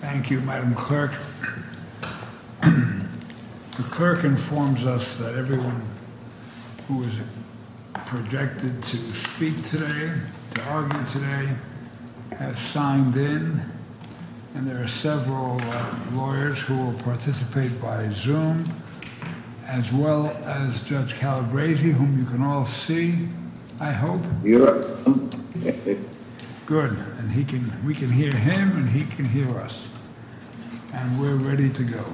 Thank you, Madam Clerk. The clerk informs us that everyone who is projected to speak today, to argue today, has signed in. And there are several lawyers who will participate by Zoom, as well as Judge Calabresi, whom you can all see, I hope. You're welcome. Good. And we can hear him, and he can hear us. And we're ready to go.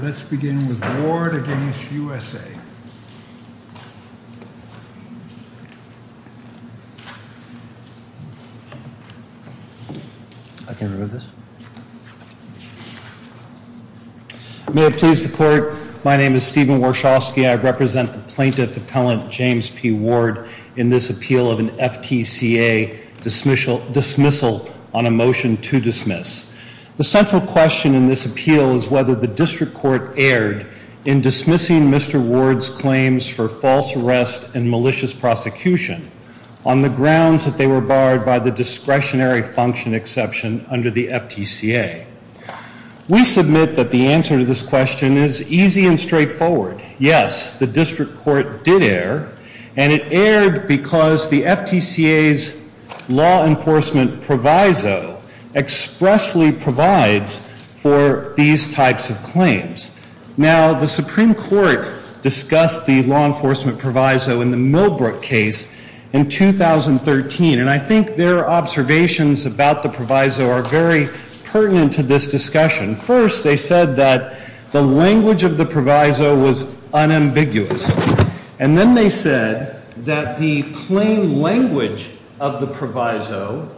Let's begin with Ward against USA. May it please the Court, my name is Stephen Warshawski. I represent the plaintiff appellant, James P. Ward, in this appeal of an FTCA dismissal on a motion to dismiss. The central question in this appeal is whether the district court erred in dismissing Mr. Ward's claims for false arrest and malicious prosecution on the grounds that they were barred by the discretionary function exception under the FTCA. We submit that the answer to this question is easy and straightforward. Yes, the district court did err, and it erred because the FTCA's law enforcement proviso expressly provides for these types of claims. Now, the Supreme Court discussed the law enforcement proviso in the Milbrook case in 2013, and I think their observations about the proviso are very pertinent to this discussion. First, they said that the language of the proviso was unambiguous, and then they said that the plain language of the proviso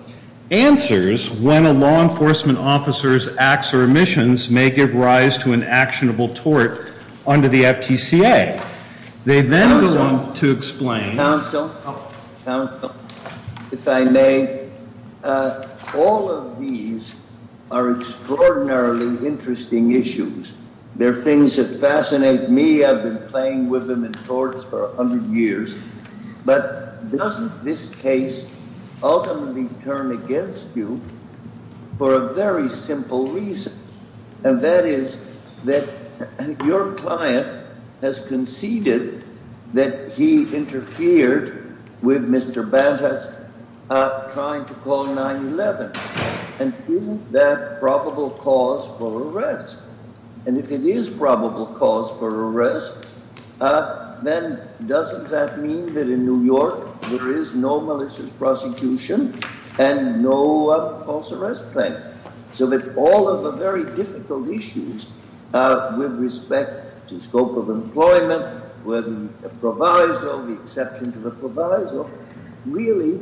answers when a law enforcement officer's acts or omissions may give rise to an actionable tort under the FTCA. They then go on to explain... There are things that fascinate me. I've been playing with them in torts for 100 years, but doesn't this case ultimately turn against you for a very simple reason, and that is that your client has conceded that he interfered with Mr. Bantas trying to call 9-11, and isn't that probable cause for arrest? And if it is probable cause for arrest, then doesn't that mean that in New York there is no malicious prosecution and no false arrest claim? So that all of the very difficult issues with respect to scope of employment, whether the proviso, the exception to the proviso, really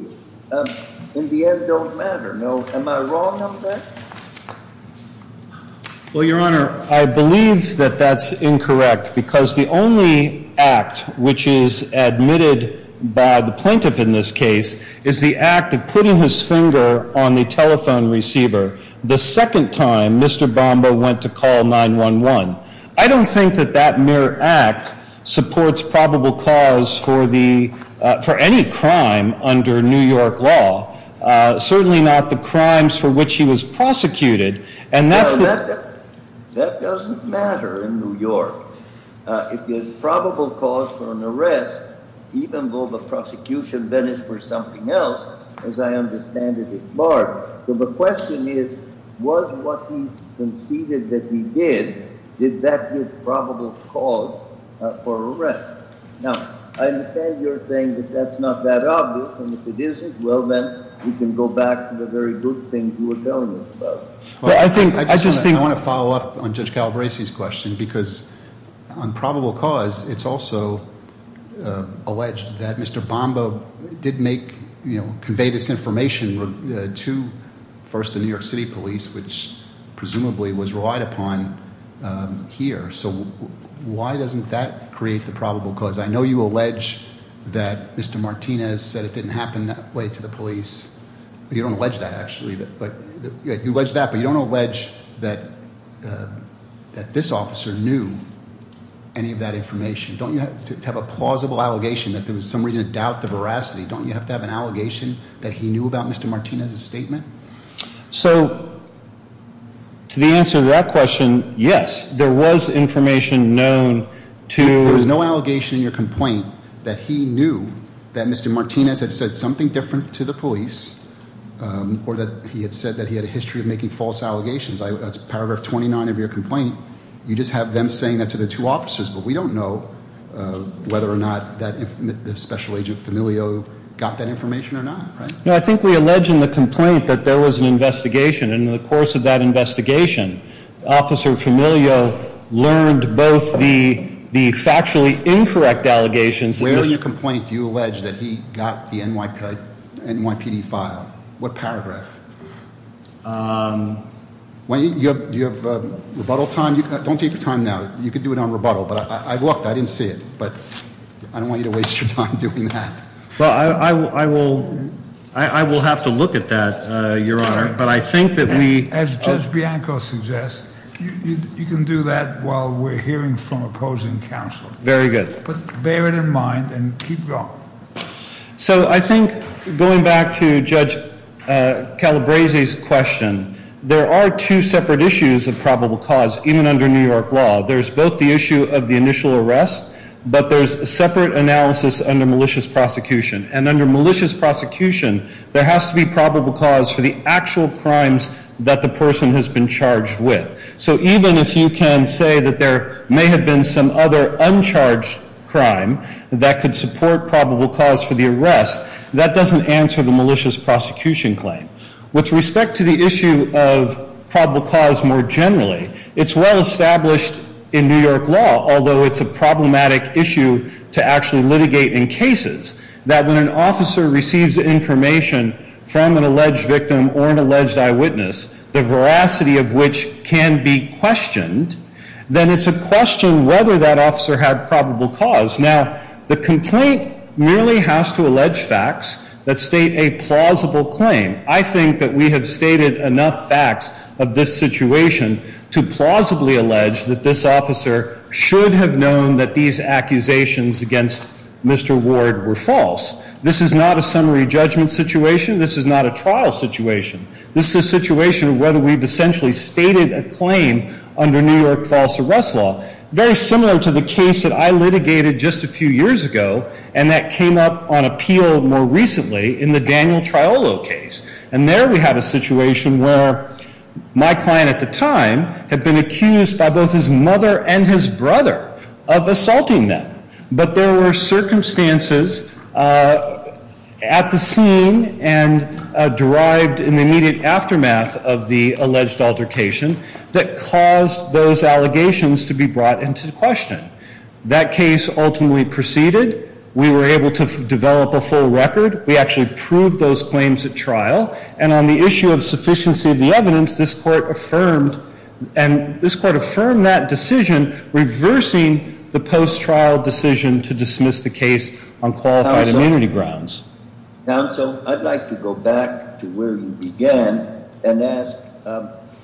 in the end don't matter. Am I wrong on that? Well, Your Honor, I believe that that's incorrect, because the only act which is admitted by the plaintiff in this case is the act of putting his finger on the telephone receiver the second time Mr. Bamba went to call 9-11. I don't think that that mere act supports probable cause for any crime under New York law, certainly not the crimes for which he was prosecuted, and that's... Well, that doesn't matter in New York. If there's probable cause for an arrest, even though the prosecution then is for something else, as I understand it at large. So the question is, was what he conceded that he did, did that give probable cause for arrest? Now, I understand you're saying that that's not that obvious, and if it isn't, well, then we can go back to the very good things you were telling us about. I want to follow up on Judge Calabresi's question, because on probable cause, it's also alleged that Mr. Bamba did convey this information to, first, the New York City police, which presumably was relied upon here. So why doesn't that create the probable cause? I know you allege that Mr. Martinez said it didn't happen that way to the police. You don't allege that, actually. You allege that, but you don't allege that this officer knew any of that information. Don't you have to have a plausible allegation that there was some reason to doubt the veracity? Don't you have to have an allegation that he knew about Mr. Martinez's statement? So to the answer to that question, yes, there was information known to... or that he had said that he had a history of making false allegations. That's paragraph 29 of your complaint. You just have them saying that to the two officers, but we don't know whether or not the special agent, Familio, got that information or not. No, I think we allege in the complaint that there was an investigation, and in the course of that investigation, Officer Familio learned both the factually incorrect allegations... In the complaint, you allege that he got the NYPD file. What paragraph? Do you have rebuttal time? Don't take your time now. You can do it on rebuttal. I looked. I didn't see it, but I don't want you to waste your time doing that. Well, I will have to look at that, Your Honor, but I think that we... As Judge Bianco suggests, you can do that while we're hearing from opposing counsel. Very good. But bear it in mind and keep going. So I think, going back to Judge Calabresi's question, there are two separate issues of probable cause, even under New York law. There's both the issue of the initial arrest, but there's separate analysis under malicious prosecution. And under malicious prosecution, there has to be probable cause for the actual crimes that the person has been charged with. So even if you can say that there may have been some other uncharged crime that could support probable cause for the arrest, that doesn't answer the malicious prosecution claim. With respect to the issue of probable cause more generally, it's well established in New York law, although it's a problematic issue to actually litigate in cases, that when an officer receives information from an alleged victim or an alleged eyewitness, the veracity of which can be questioned, then it's a question whether that officer had probable cause. Now, the complaint merely has to allege facts that state a plausible claim. I think that we have stated enough facts of this situation to plausibly allege that this officer should have known that these accusations against Mr. Ward were false. This is not a summary judgment situation. This is not a trial situation. This is a situation where we've essentially stated a claim under New York false arrest law, very similar to the case that I litigated just a few years ago, and that came up on appeal more recently in the Daniel Triolo case. And there we had a situation where my client at the time had been accused by both his mother and his brother of assaulting them. But there were circumstances at the scene and derived in the immediate aftermath of the alleged altercation that caused those allegations to be brought into question. That case ultimately proceeded. We were able to develop a full record. And on the issue of sufficiency of the evidence, this court affirmed that decision, reversing the post-trial decision to dismiss the case on qualified immunity grounds. Counsel, I'd like to go back to where you began and ask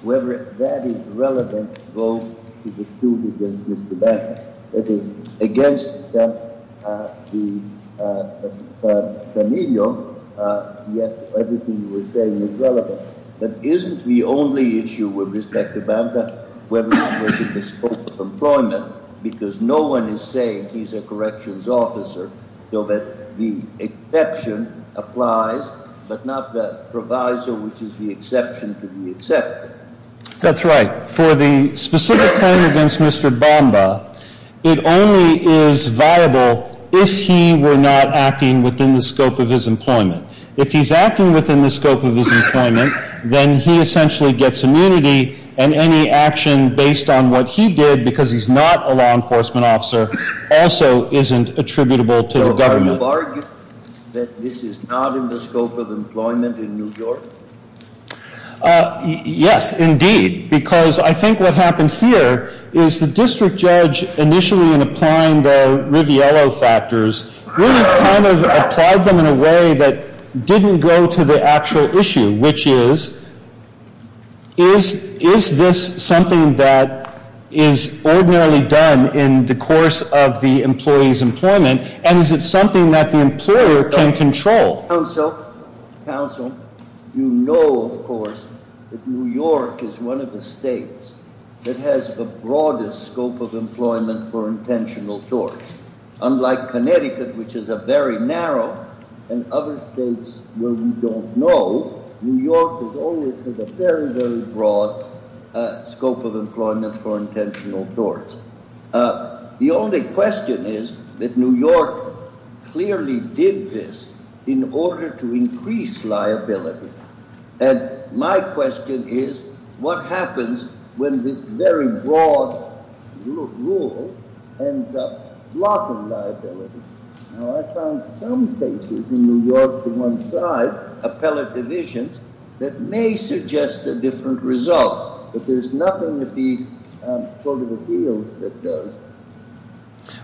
whether that is relevant to the suit against Mr. Banta. It is against the familial, yes, everything you were saying is relevant. But isn't the only issue with respect to Banta whether or not there's a scope of employment? Because no one is saying he's a corrections officer, so that the exception applies, but not the proviso, which is the exception to be accepted. That's right. For the specific claim against Mr. Banta, it only is viable if he were not acting within the scope of his employment. If he's acting within the scope of his employment, then he essentially gets immunity. And any action based on what he did, because he's not a law enforcement officer, also isn't attributable to the government. So are you arguing that this is not in the scope of employment in New York? Yes, indeed. Because I think what happened here is the district judge, initially in applying the Riviello factors, really kind of applied them in a way that didn't go to the actual issue, which is, is this something that is ordinarily done in the course of the employee's employment? And is it something that the employer can control? Counsel, you know, of course, that New York is one of the states that has the broadest scope of employment for intentional torts. Unlike Connecticut, which is a very narrow, and other states where we don't know, New York has always had a very, very broad scope of employment for intentional torts. The only question is that New York clearly did this in order to increase liability. And my question is, what happens when this very broad rule ends up blocking liability? Now, I found some cases in New York to one side, appellate divisions, that may suggest a different result. But there's nothing that the court of appeals does.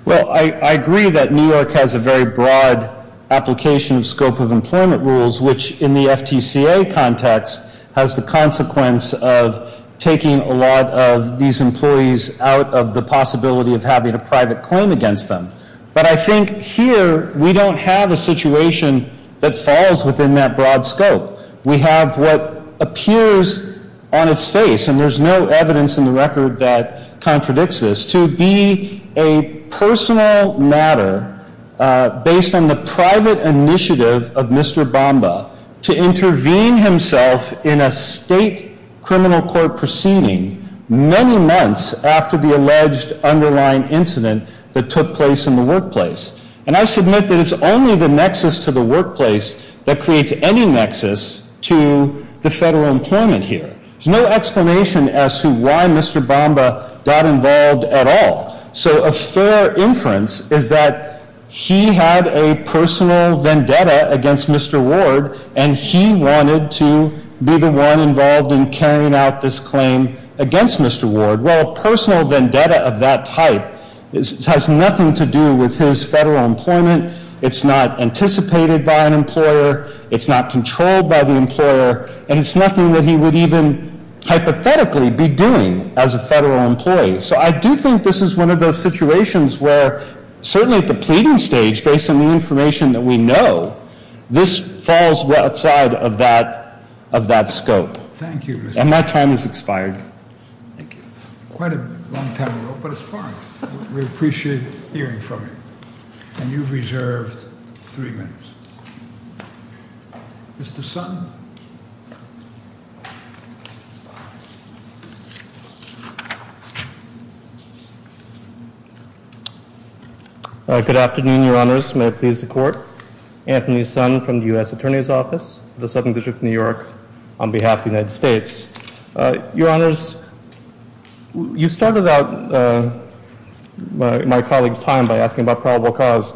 Well, I agree that New York has a very broad application of scope of employment rules, which in the FTCA context has the consequence of taking a lot of these employees out of the possibility of having a private claim against them. But I think here, we don't have a situation that falls within that broad scope. We have what appears on its face, and there's no evidence in the record that contradicts this, to be a personal matter based on the private initiative of Mr. Bamba to intervene himself in a state criminal court proceeding many months after the alleged underlying incident that took place in the workplace. And I submit that it's only the nexus to the workplace that creates any nexus to the federal employment here. There's no explanation as to why Mr. Bamba got involved at all. So a fair inference is that he had a personal vendetta against Mr. Ward, and he wanted to be the one involved in carrying out this claim against Mr. Ward. Well, a personal vendetta of that type has nothing to do with his federal employment. It's not anticipated by an employer. It's not controlled by the employer. And it's nothing that he would even hypothetically be doing as a federal employee. So I do think this is one of those situations where certainly at the pleading stage, based on the information that we know, this falls outside of that scope. Thank you. And my time has expired. Thank you. Quite a long time ago, but it's fine. We appreciate hearing from you. And you've reserved three minutes. Mr. Sun? Good afternoon, Your Honors. May it please the Court. Anthony Sun from the U.S. Attorney's Office, the Southern District of New York, on behalf of the United States. Your Honors, you started out my colleague's time by asking about probable cause,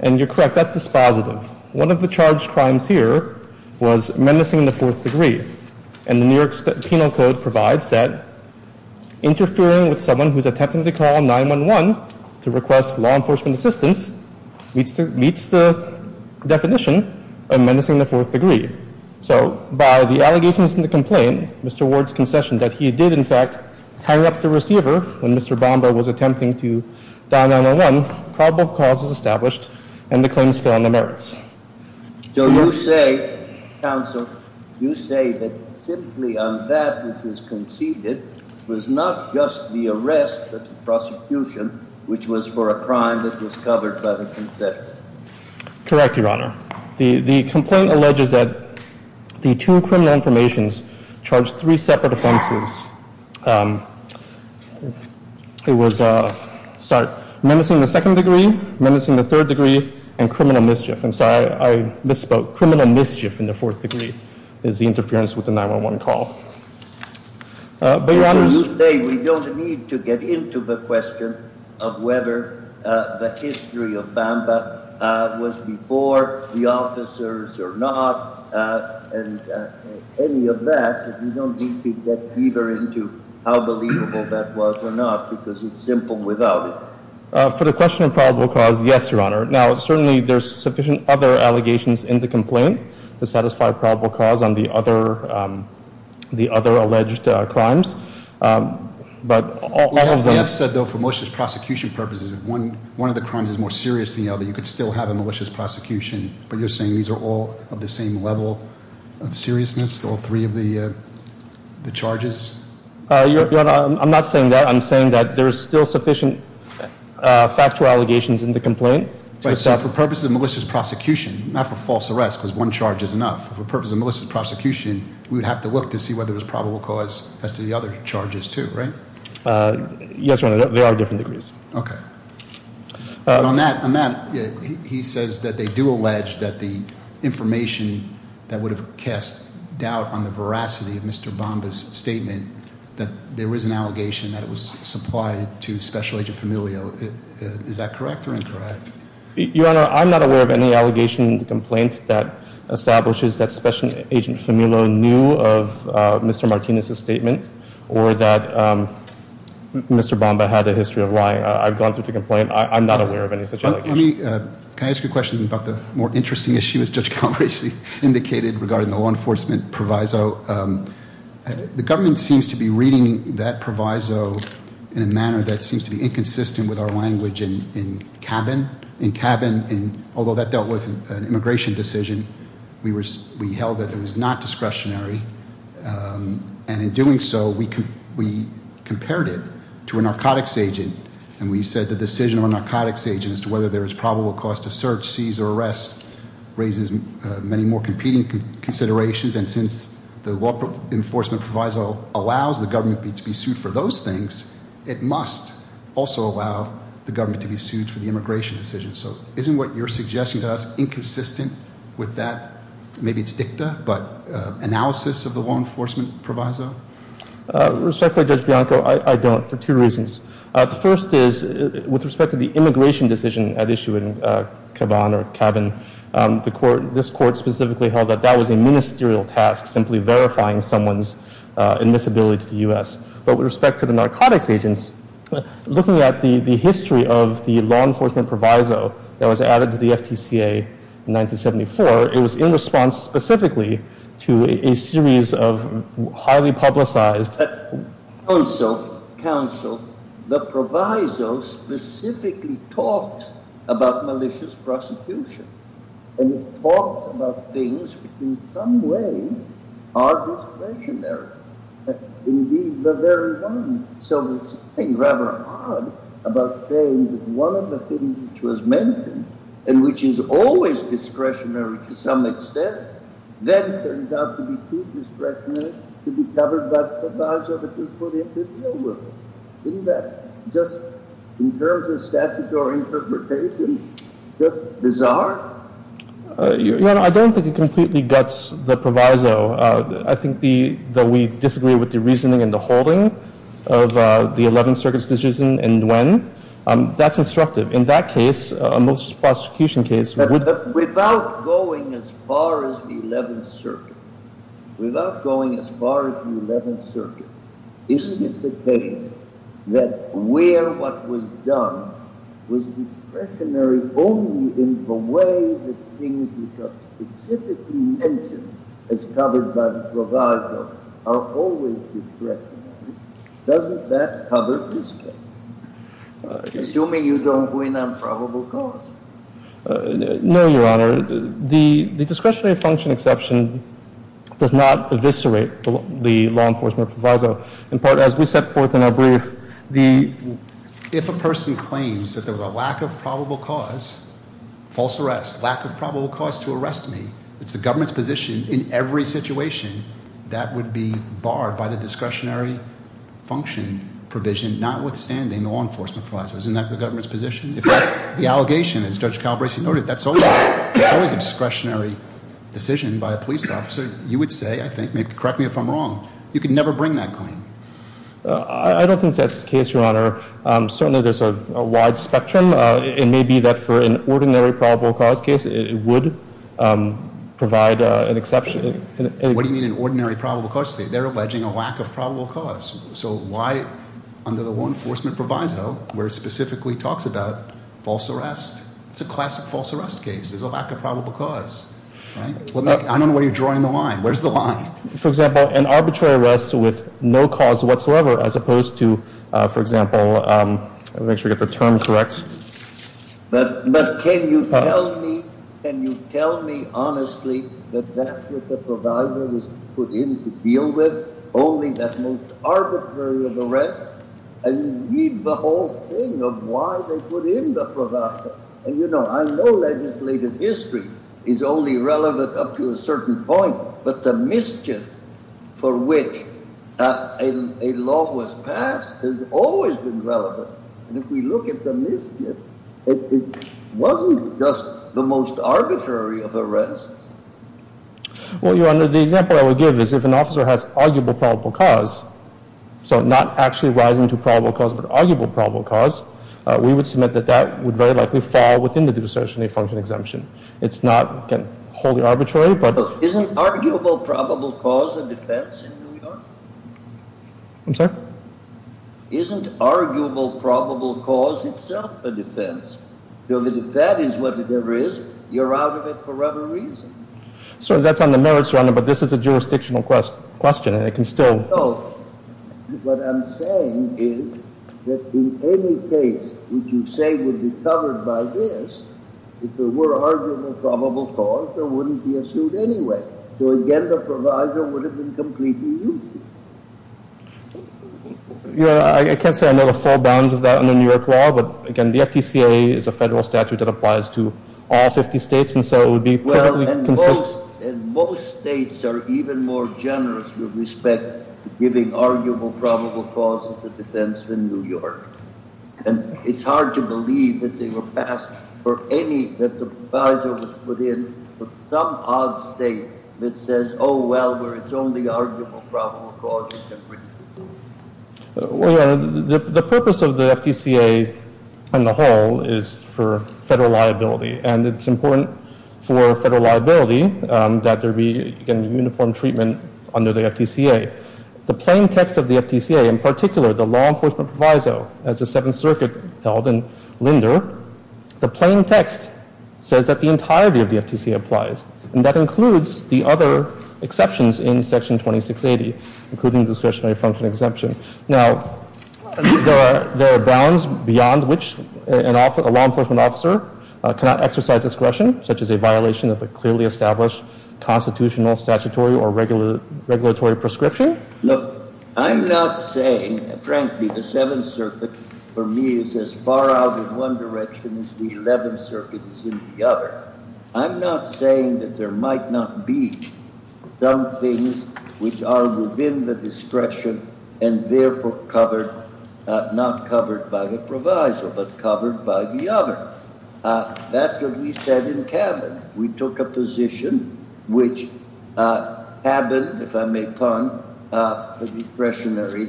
and you're correct. That's dispositive. One of the charged crimes here was menacing in the fourth degree, and the New York Penal Code provides that interfering with someone who's attempting to call 911 to request law enforcement assistance meets the definition of menacing in the fourth degree. So by the allegations in the complaint, Mr. Ward's concession that he did, in fact, hang up the receiver when Mr. Bomba was attempting to dial 911, probable cause is established, and the claims fail on the merits. So you say, counsel, you say that simply on that which was conceded was not just the arrest but the prosecution, which was for a crime that was covered by the concession? Correct, Your Honor. The complaint alleges that the two criminal informations charged three separate offenses. It was menacing in the second degree, menacing in the third degree, and criminal mischief. And sorry, I misspoke. Criminal mischief in the fourth degree is the interference with the 911 call. But, Your Honor, You say we don't need to get into the question of whether the history of Bomba was before the officers or not, and any of that. You don't need to get either into how believable that was or not because it's simple without it. For the question of probable cause, yes, Your Honor. Now, certainly there's sufficient other allegations in the complaint to satisfy probable cause on the other alleged crimes. But all of them- We have said, though, for malicious prosecution purposes, if one of the crimes is more serious than the other, you could still have a malicious prosecution. But you're saying these are all of the same level of seriousness, all three of the charges? Your Honor, I'm not saying that. I'm saying that there's still sufficient factual allegations in the complaint. So for purposes of malicious prosecution, not for false arrest because one charge is enough, for purposes of malicious prosecution, we would have to look to see whether it was probable cause as to the other charges, too, right? Yes, Your Honor. They are different degrees. Okay. On that, he says that they do allege that the information that would have cast doubt on the veracity of Mr. Bamba's statement, that there was an allegation that it was supplied to Special Agent Famiglio. Is that correct or incorrect? Your Honor, I'm not aware of any allegation in the complaint that establishes that Special Agent Famiglio knew of Mr. Martinez's statement or that Mr. Bamba had a history of lying. I've gone through the complaint. I'm not aware of any such allegation. Can I ask you a question about the more interesting issue, as Judge Calabresi indicated, regarding the law enforcement proviso? The government seems to be reading that proviso in a manner that seems to be inconsistent with our language in cabin. In cabin, although that dealt with an immigration decision, we held that it was not discretionary. And in doing so, we compared it to a narcotics agent. And we said the decision of a narcotics agent as to whether there is probable cause to search, seize, or arrest raises many more competing considerations. And since the law enforcement proviso allows the government to be sued for those things, it must also allow the government to be sued for the immigration decision. So isn't what you're suggesting to us inconsistent with that? Maybe it's dicta, but analysis of the law enforcement proviso? Respectfully, Judge Bianco, I don't, for two reasons. The first is, with respect to the immigration decision at issue in Caban or Cabin, this court specifically held that that was a ministerial task, simply verifying someone's admissibility to the U.S. But with respect to the narcotics agents, looking at the history of the law enforcement proviso that was added to the FTCA in 1974, it was in response specifically to a series of highly publicized— Counsel, counsel, the proviso specifically talks about malicious prosecution. And it talks about things which in some ways are discretionary. Indeed, the very ones. So there's something rather odd about saying that one of the things which was mentioned and which is always discretionary to some extent then turns out to be too discretionary to be covered by the proviso that was put in the deal with it. Isn't that just, in terms of statutory interpretation, just bizarre? I don't think it completely guts the proviso. I think that we disagree with the reasoning and the holding of the 11th Circuit's decision and when. That's instructive. In that case, a malicious prosecution case— But without going as far as the 11th Circuit, without going as far as the 11th Circuit, isn't it the case that where what was done was discretionary only in the way that things which are specifically mentioned as covered by the proviso are always discretionary? Doesn't that cover this case? Assuming you don't win on probable cause. No, Your Honor. The discretionary function exception does not eviscerate the law enforcement proviso. In part, as we set forth in our brief, the— If a person claims that there was a lack of probable cause, false arrest, lack of probable cause to arrest me, it's the government's position in every situation that would be barred by the discretionary function provision notwithstanding the law enforcement proviso. Isn't that the government's position? If that's the allegation, as Judge Calabresi noted, that's always a discretionary decision by a police officer, you would say, I think—correct me if I'm wrong—you could never bring that claim. I don't think that's the case, Your Honor. Certainly, there's a wide spectrum. It may be that for an ordinary probable cause case, it would provide an exception. What do you mean an ordinary probable cause case? They're alleging a lack of probable cause. So why, under the law enforcement proviso, where it specifically talks about false arrest? It's a classic false arrest case. There's a lack of probable cause. I don't know where you're drawing the line. Where's the line? For example, an arbitrary arrest with no cause whatsoever as opposed to, for example— I want to make sure I get the term correct. But can you tell me honestly that that's what the proviso was put in to deal with? Only that most arbitrary of arrests? And read the whole thing of why they put in the proviso. And, you know, I know legislative history is only relevant up to a certain point, but the mischief for which a law was passed has always been relevant. And if we look at the mischief, it wasn't just the most arbitrary of arrests. Well, the example I would give is if an officer has arguable probable cause, so not actually rising to probable cause but arguable probable cause, we would submit that that would very likely fall within the discretionary function exemption. It's not wholly arbitrary, but— Isn't arguable probable cause a defense in New York? I'm sorry? Isn't arguable probable cause itself a defense? If that is what it ever is, you're out of it for whatever reason. Sir, that's on the merits, Your Honor, but this is a jurisdictional question, and it can still— No. What I'm saying is that in any case which you say would be covered by this, if there were arguable probable cause, there wouldn't be a suit anyway. So again, the proviso would have been completely useless. Your Honor, I can't say I know the full bounds of that under New York law, but again, the FDCA is a federal statute that applies to all 50 states, and so it would be perfectly— Well, and most states are even more generous with respect to giving arguable probable cause as a defense in New York. And it's hard to believe that they were passed for any—that the proviso was put in for some odd state that says, oh, well, where it's only arguable probable cause, you can bring the suit. Well, Your Honor, the purpose of the FDCA on the whole is for federal liability, and it's important for federal liability that there be, again, uniform treatment under the FDCA. The plain text of the FDCA, in particular, the law enforcement proviso as the Seventh Circuit held in Linder, the plain text says that the entirety of the FDCA applies, and that includes the other exceptions in Section 2680, including discretionary function exemption. Now, there are bounds beyond which a law enforcement officer cannot exercise discretion, such as a violation of a clearly established constitutional, statutory, or regulatory prescription. Look, I'm not saying—frankly, the Seventh Circuit, for me, is as far out in one direction as the Eleventh Circuit is in the other. I'm not saying that there might not be some things which are within the discretion, and therefore covered—not covered by the proviso, but covered by the other. That's what we said in Cabin. We took a position which happened, if I may pun, for discretionary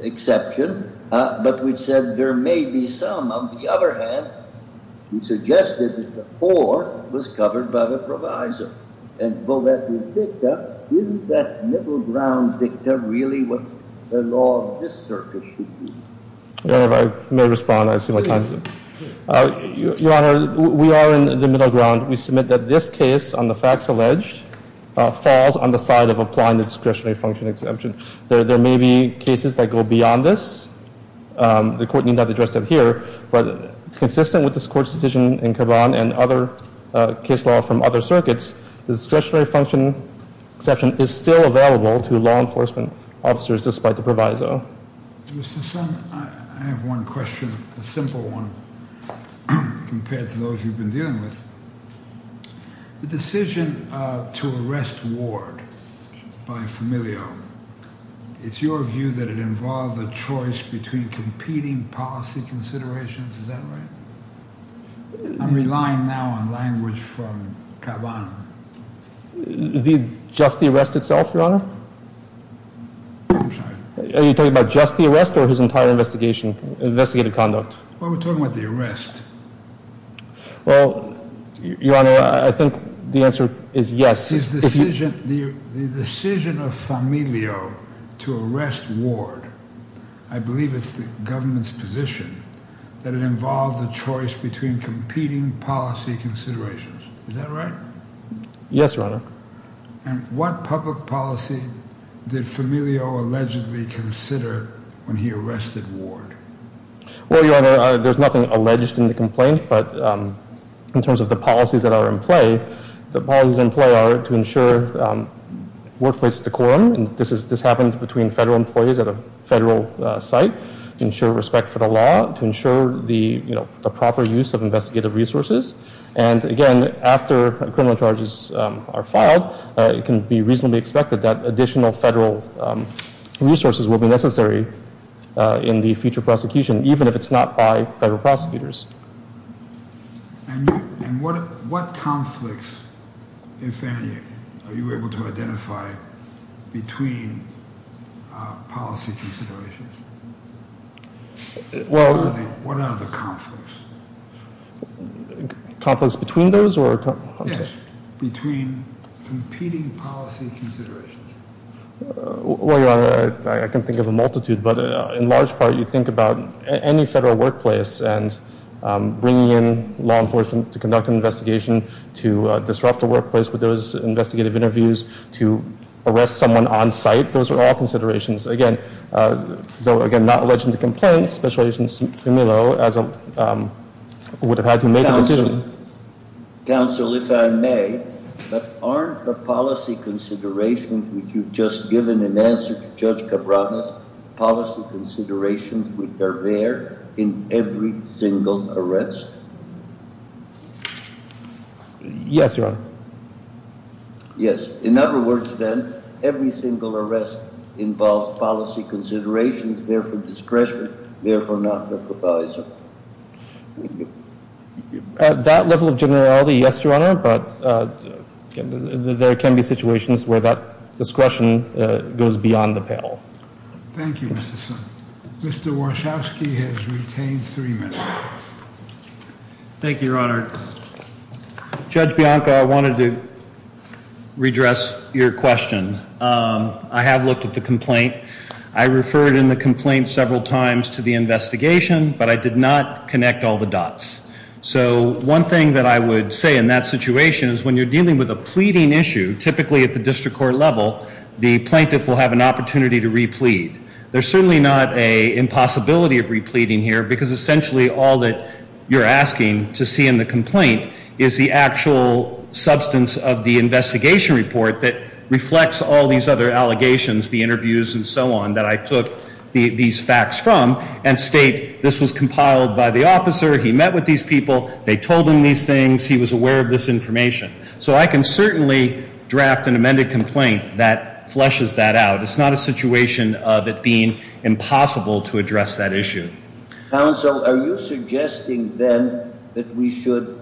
exception, but we said there may be some. On the other hand, we suggested that the poor was covered by the proviso. And though that was dicta, isn't that middle-ground dicta really what the law of this circuit should be? Your Honor, if I may respond, I see my time is up. Your Honor, we are in the middle ground. We submit that this case on the facts alleged falls on the side of applying the discretionary function exemption. There may be cases that go beyond this. The Court need not address them here. But consistent with this Court's decision in Cabin and other case law from other circuits, the discretionary function exception is still available to law enforcement officers despite the proviso. Mr. Son, I have one question, a simple one, compared to those you've been dealing with. The decision to arrest Ward by Familio, it's your view that it involved a choice between competing policy considerations. Is that right? I'm relying now on language from Caban. Just the arrest itself, Your Honor? I'm sorry. Are you talking about just the arrest or his entire investigative conduct? Well, we're talking about the arrest. Well, Your Honor, I think the answer is yes. The decision of Familio to arrest Ward, I believe it's the government's position that it involved a choice between competing policy considerations. Is that right? Yes, Your Honor. And what public policy did Familio allegedly consider when he arrested Ward? Well, Your Honor, there's nothing alleged in the complaint, but in terms of the policies that are in play, the policies in play are to ensure workplace decorum, and this happens between federal employees at a federal site, ensure respect for the law, to ensure the proper use of investigative resources. And, again, after criminal charges are filed, it can be reasonably expected that additional federal resources will be necessary in the future prosecution, even if it's not by federal prosecutors. And what conflicts in Familio are you able to identify between policy considerations? What are the conflicts? Conflicts between those? Yes, between competing policy considerations. Well, Your Honor, I can think of a multitude, but in large part you think about any federal workplace and bringing in law enforcement to conduct an investigation, to disrupt the workplace with those investigative interviews, to arrest someone on site, those are all considerations. Again, though not alleged in the complaint, Special Agent Familio would have had to make a decision. Counsel, if I may, but aren't the policy considerations which you've just given in answer to Judge Cabranes, policy considerations which are there in every single arrest? Yes, Your Honor. Yes, in other words, then, every single arrest involves policy considerations, therefore discretion, therefore not the proviso. At that level of generality, yes, Your Honor, but there can be situations where that discretion goes beyond the panel. Thank you, Mr. Summers. Mr. Wachowski has retained three minutes. Thank you, Your Honor. Judge Bianca, I wanted to redress your question. I have looked at the complaint. I referred in the complaint several times to the investigation, but I did not connect all the dots. So one thing that I would say in that situation is when you're dealing with a pleading issue, typically at the district court level, the plaintiff will have an opportunity to replete. There's certainly not an impossibility of repleting here, because essentially all that you're asking to see in the complaint is the actual substance of the investigation report that reflects all these other allegations, the interviews and so on, that I took these facts from and state this was compiled by the officer, he met with these people, they told him these things, he was aware of this information. So I can certainly draft an amended complaint that flushes that out. It's not a situation of it being impossible to address that issue. Counsel, are you suggesting then that we should,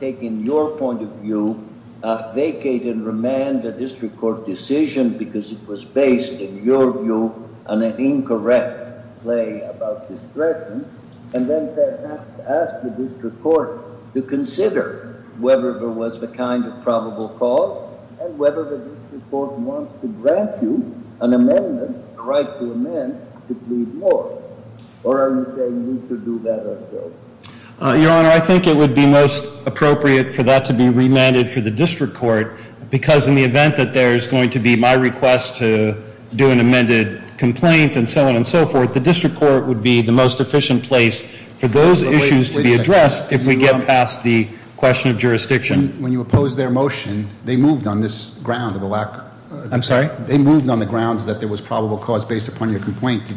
taking your point of view, vacate and remand the district court decision because it was based, in your view, on an incorrect play about discretion, and then perhaps ask the district court to consider whether there was the kind of probable cause and whether the district court wants to grant you an amendment, a right to amend, to plead more? Or are you saying we should do that ourselves? Your Honor, I think it would be most appropriate for that to be remanded for the district court because in the event that there's going to be my request to do an amended complaint and so on and so forth, the district court would be the most efficient place for those issues to be addressed if we get past the question of jurisdiction. When you opposed their motion, they moved on the grounds that there was probable cause based upon your complaint.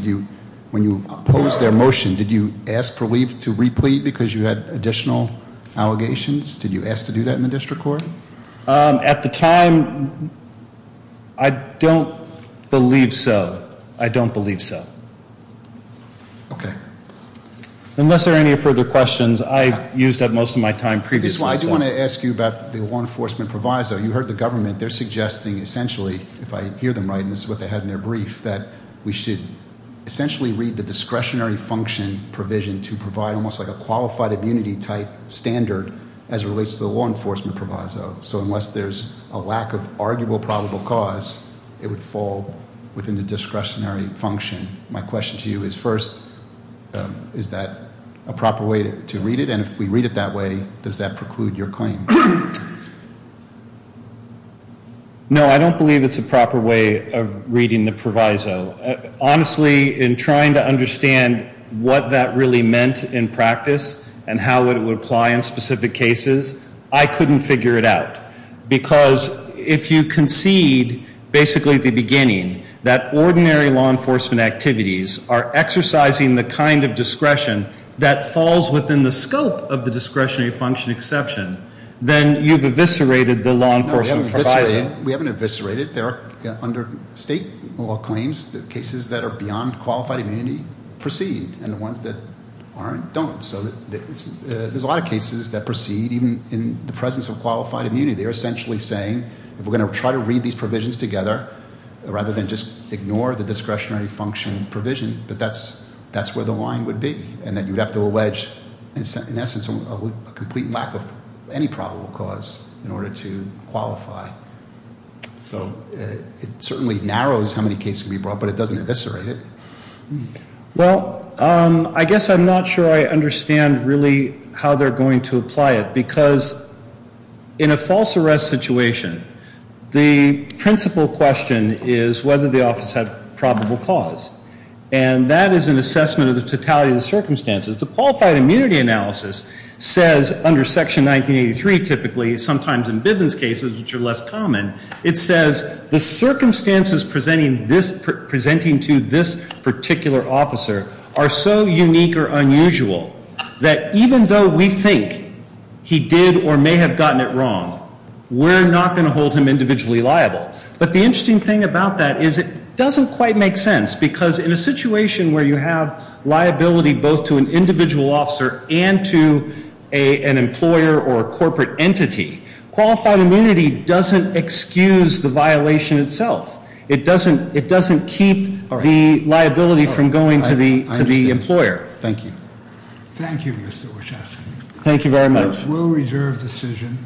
When you opposed their motion, did you ask to replete because you had additional allegations? Did you ask to do that in the district court? At the time, I don't believe so. I don't believe so. Okay. Unless there are any further questions, I used up most of my time previously. I do want to ask you about the law enforcement proviso. You heard the government. They're suggesting essentially, if I hear them right, and this is what they had in their brief, that we should essentially read the discretionary function provision to provide almost like a qualified immunity type standard as it relates to the law enforcement proviso. So unless there's a lack of arguable probable cause, it would fall within the discretionary function. My question to you is first, is that a proper way to read it? And if we read it that way, does that preclude your claim? No, I don't believe it's a proper way of reading the proviso. Honestly, in trying to understand what that really meant in practice and how it would apply in specific cases, I couldn't figure it out. Because if you concede basically at the beginning that ordinary law enforcement activities are exercising the kind of discretion that falls within the scope of the discretionary function exception, then you've eviscerated the law enforcement proviso. We haven't eviscerated. Under state law claims, the cases that are beyond qualified immunity proceed, and the ones that aren't don't. So there's a lot of cases that proceed even in the presence of qualified immunity. They're essentially saying if we're going to try to read these provisions together rather than just ignore the discretionary function provision, that that's where the line would be. And then you'd have to allege, in essence, a complete lack of any probable cause in order to qualify. So it certainly narrows how many cases can be brought, but it doesn't eviscerate it. Well, I guess I'm not sure I understand really how they're going to apply it. Because in a false arrest situation, the principal question is whether the office had probable cause. And that is an assessment of the totality of the circumstances. The qualified immunity analysis says, under Section 1983 typically, sometimes in Bivens cases, which are less common, it says the circumstances presenting to this particular officer are so unique or unusual that even though we think he did or may have gotten it wrong, we're not going to hold him individually liable. But the interesting thing about that is it doesn't quite make sense, because in a situation where you have liability both to an individual officer and to an employer or a corporate entity, qualified immunity doesn't excuse the violation itself. It doesn't keep the liability from going to the employer. Thank you. Thank you, Mr. Wachowski. Thank you very much. We'll reserve the decision.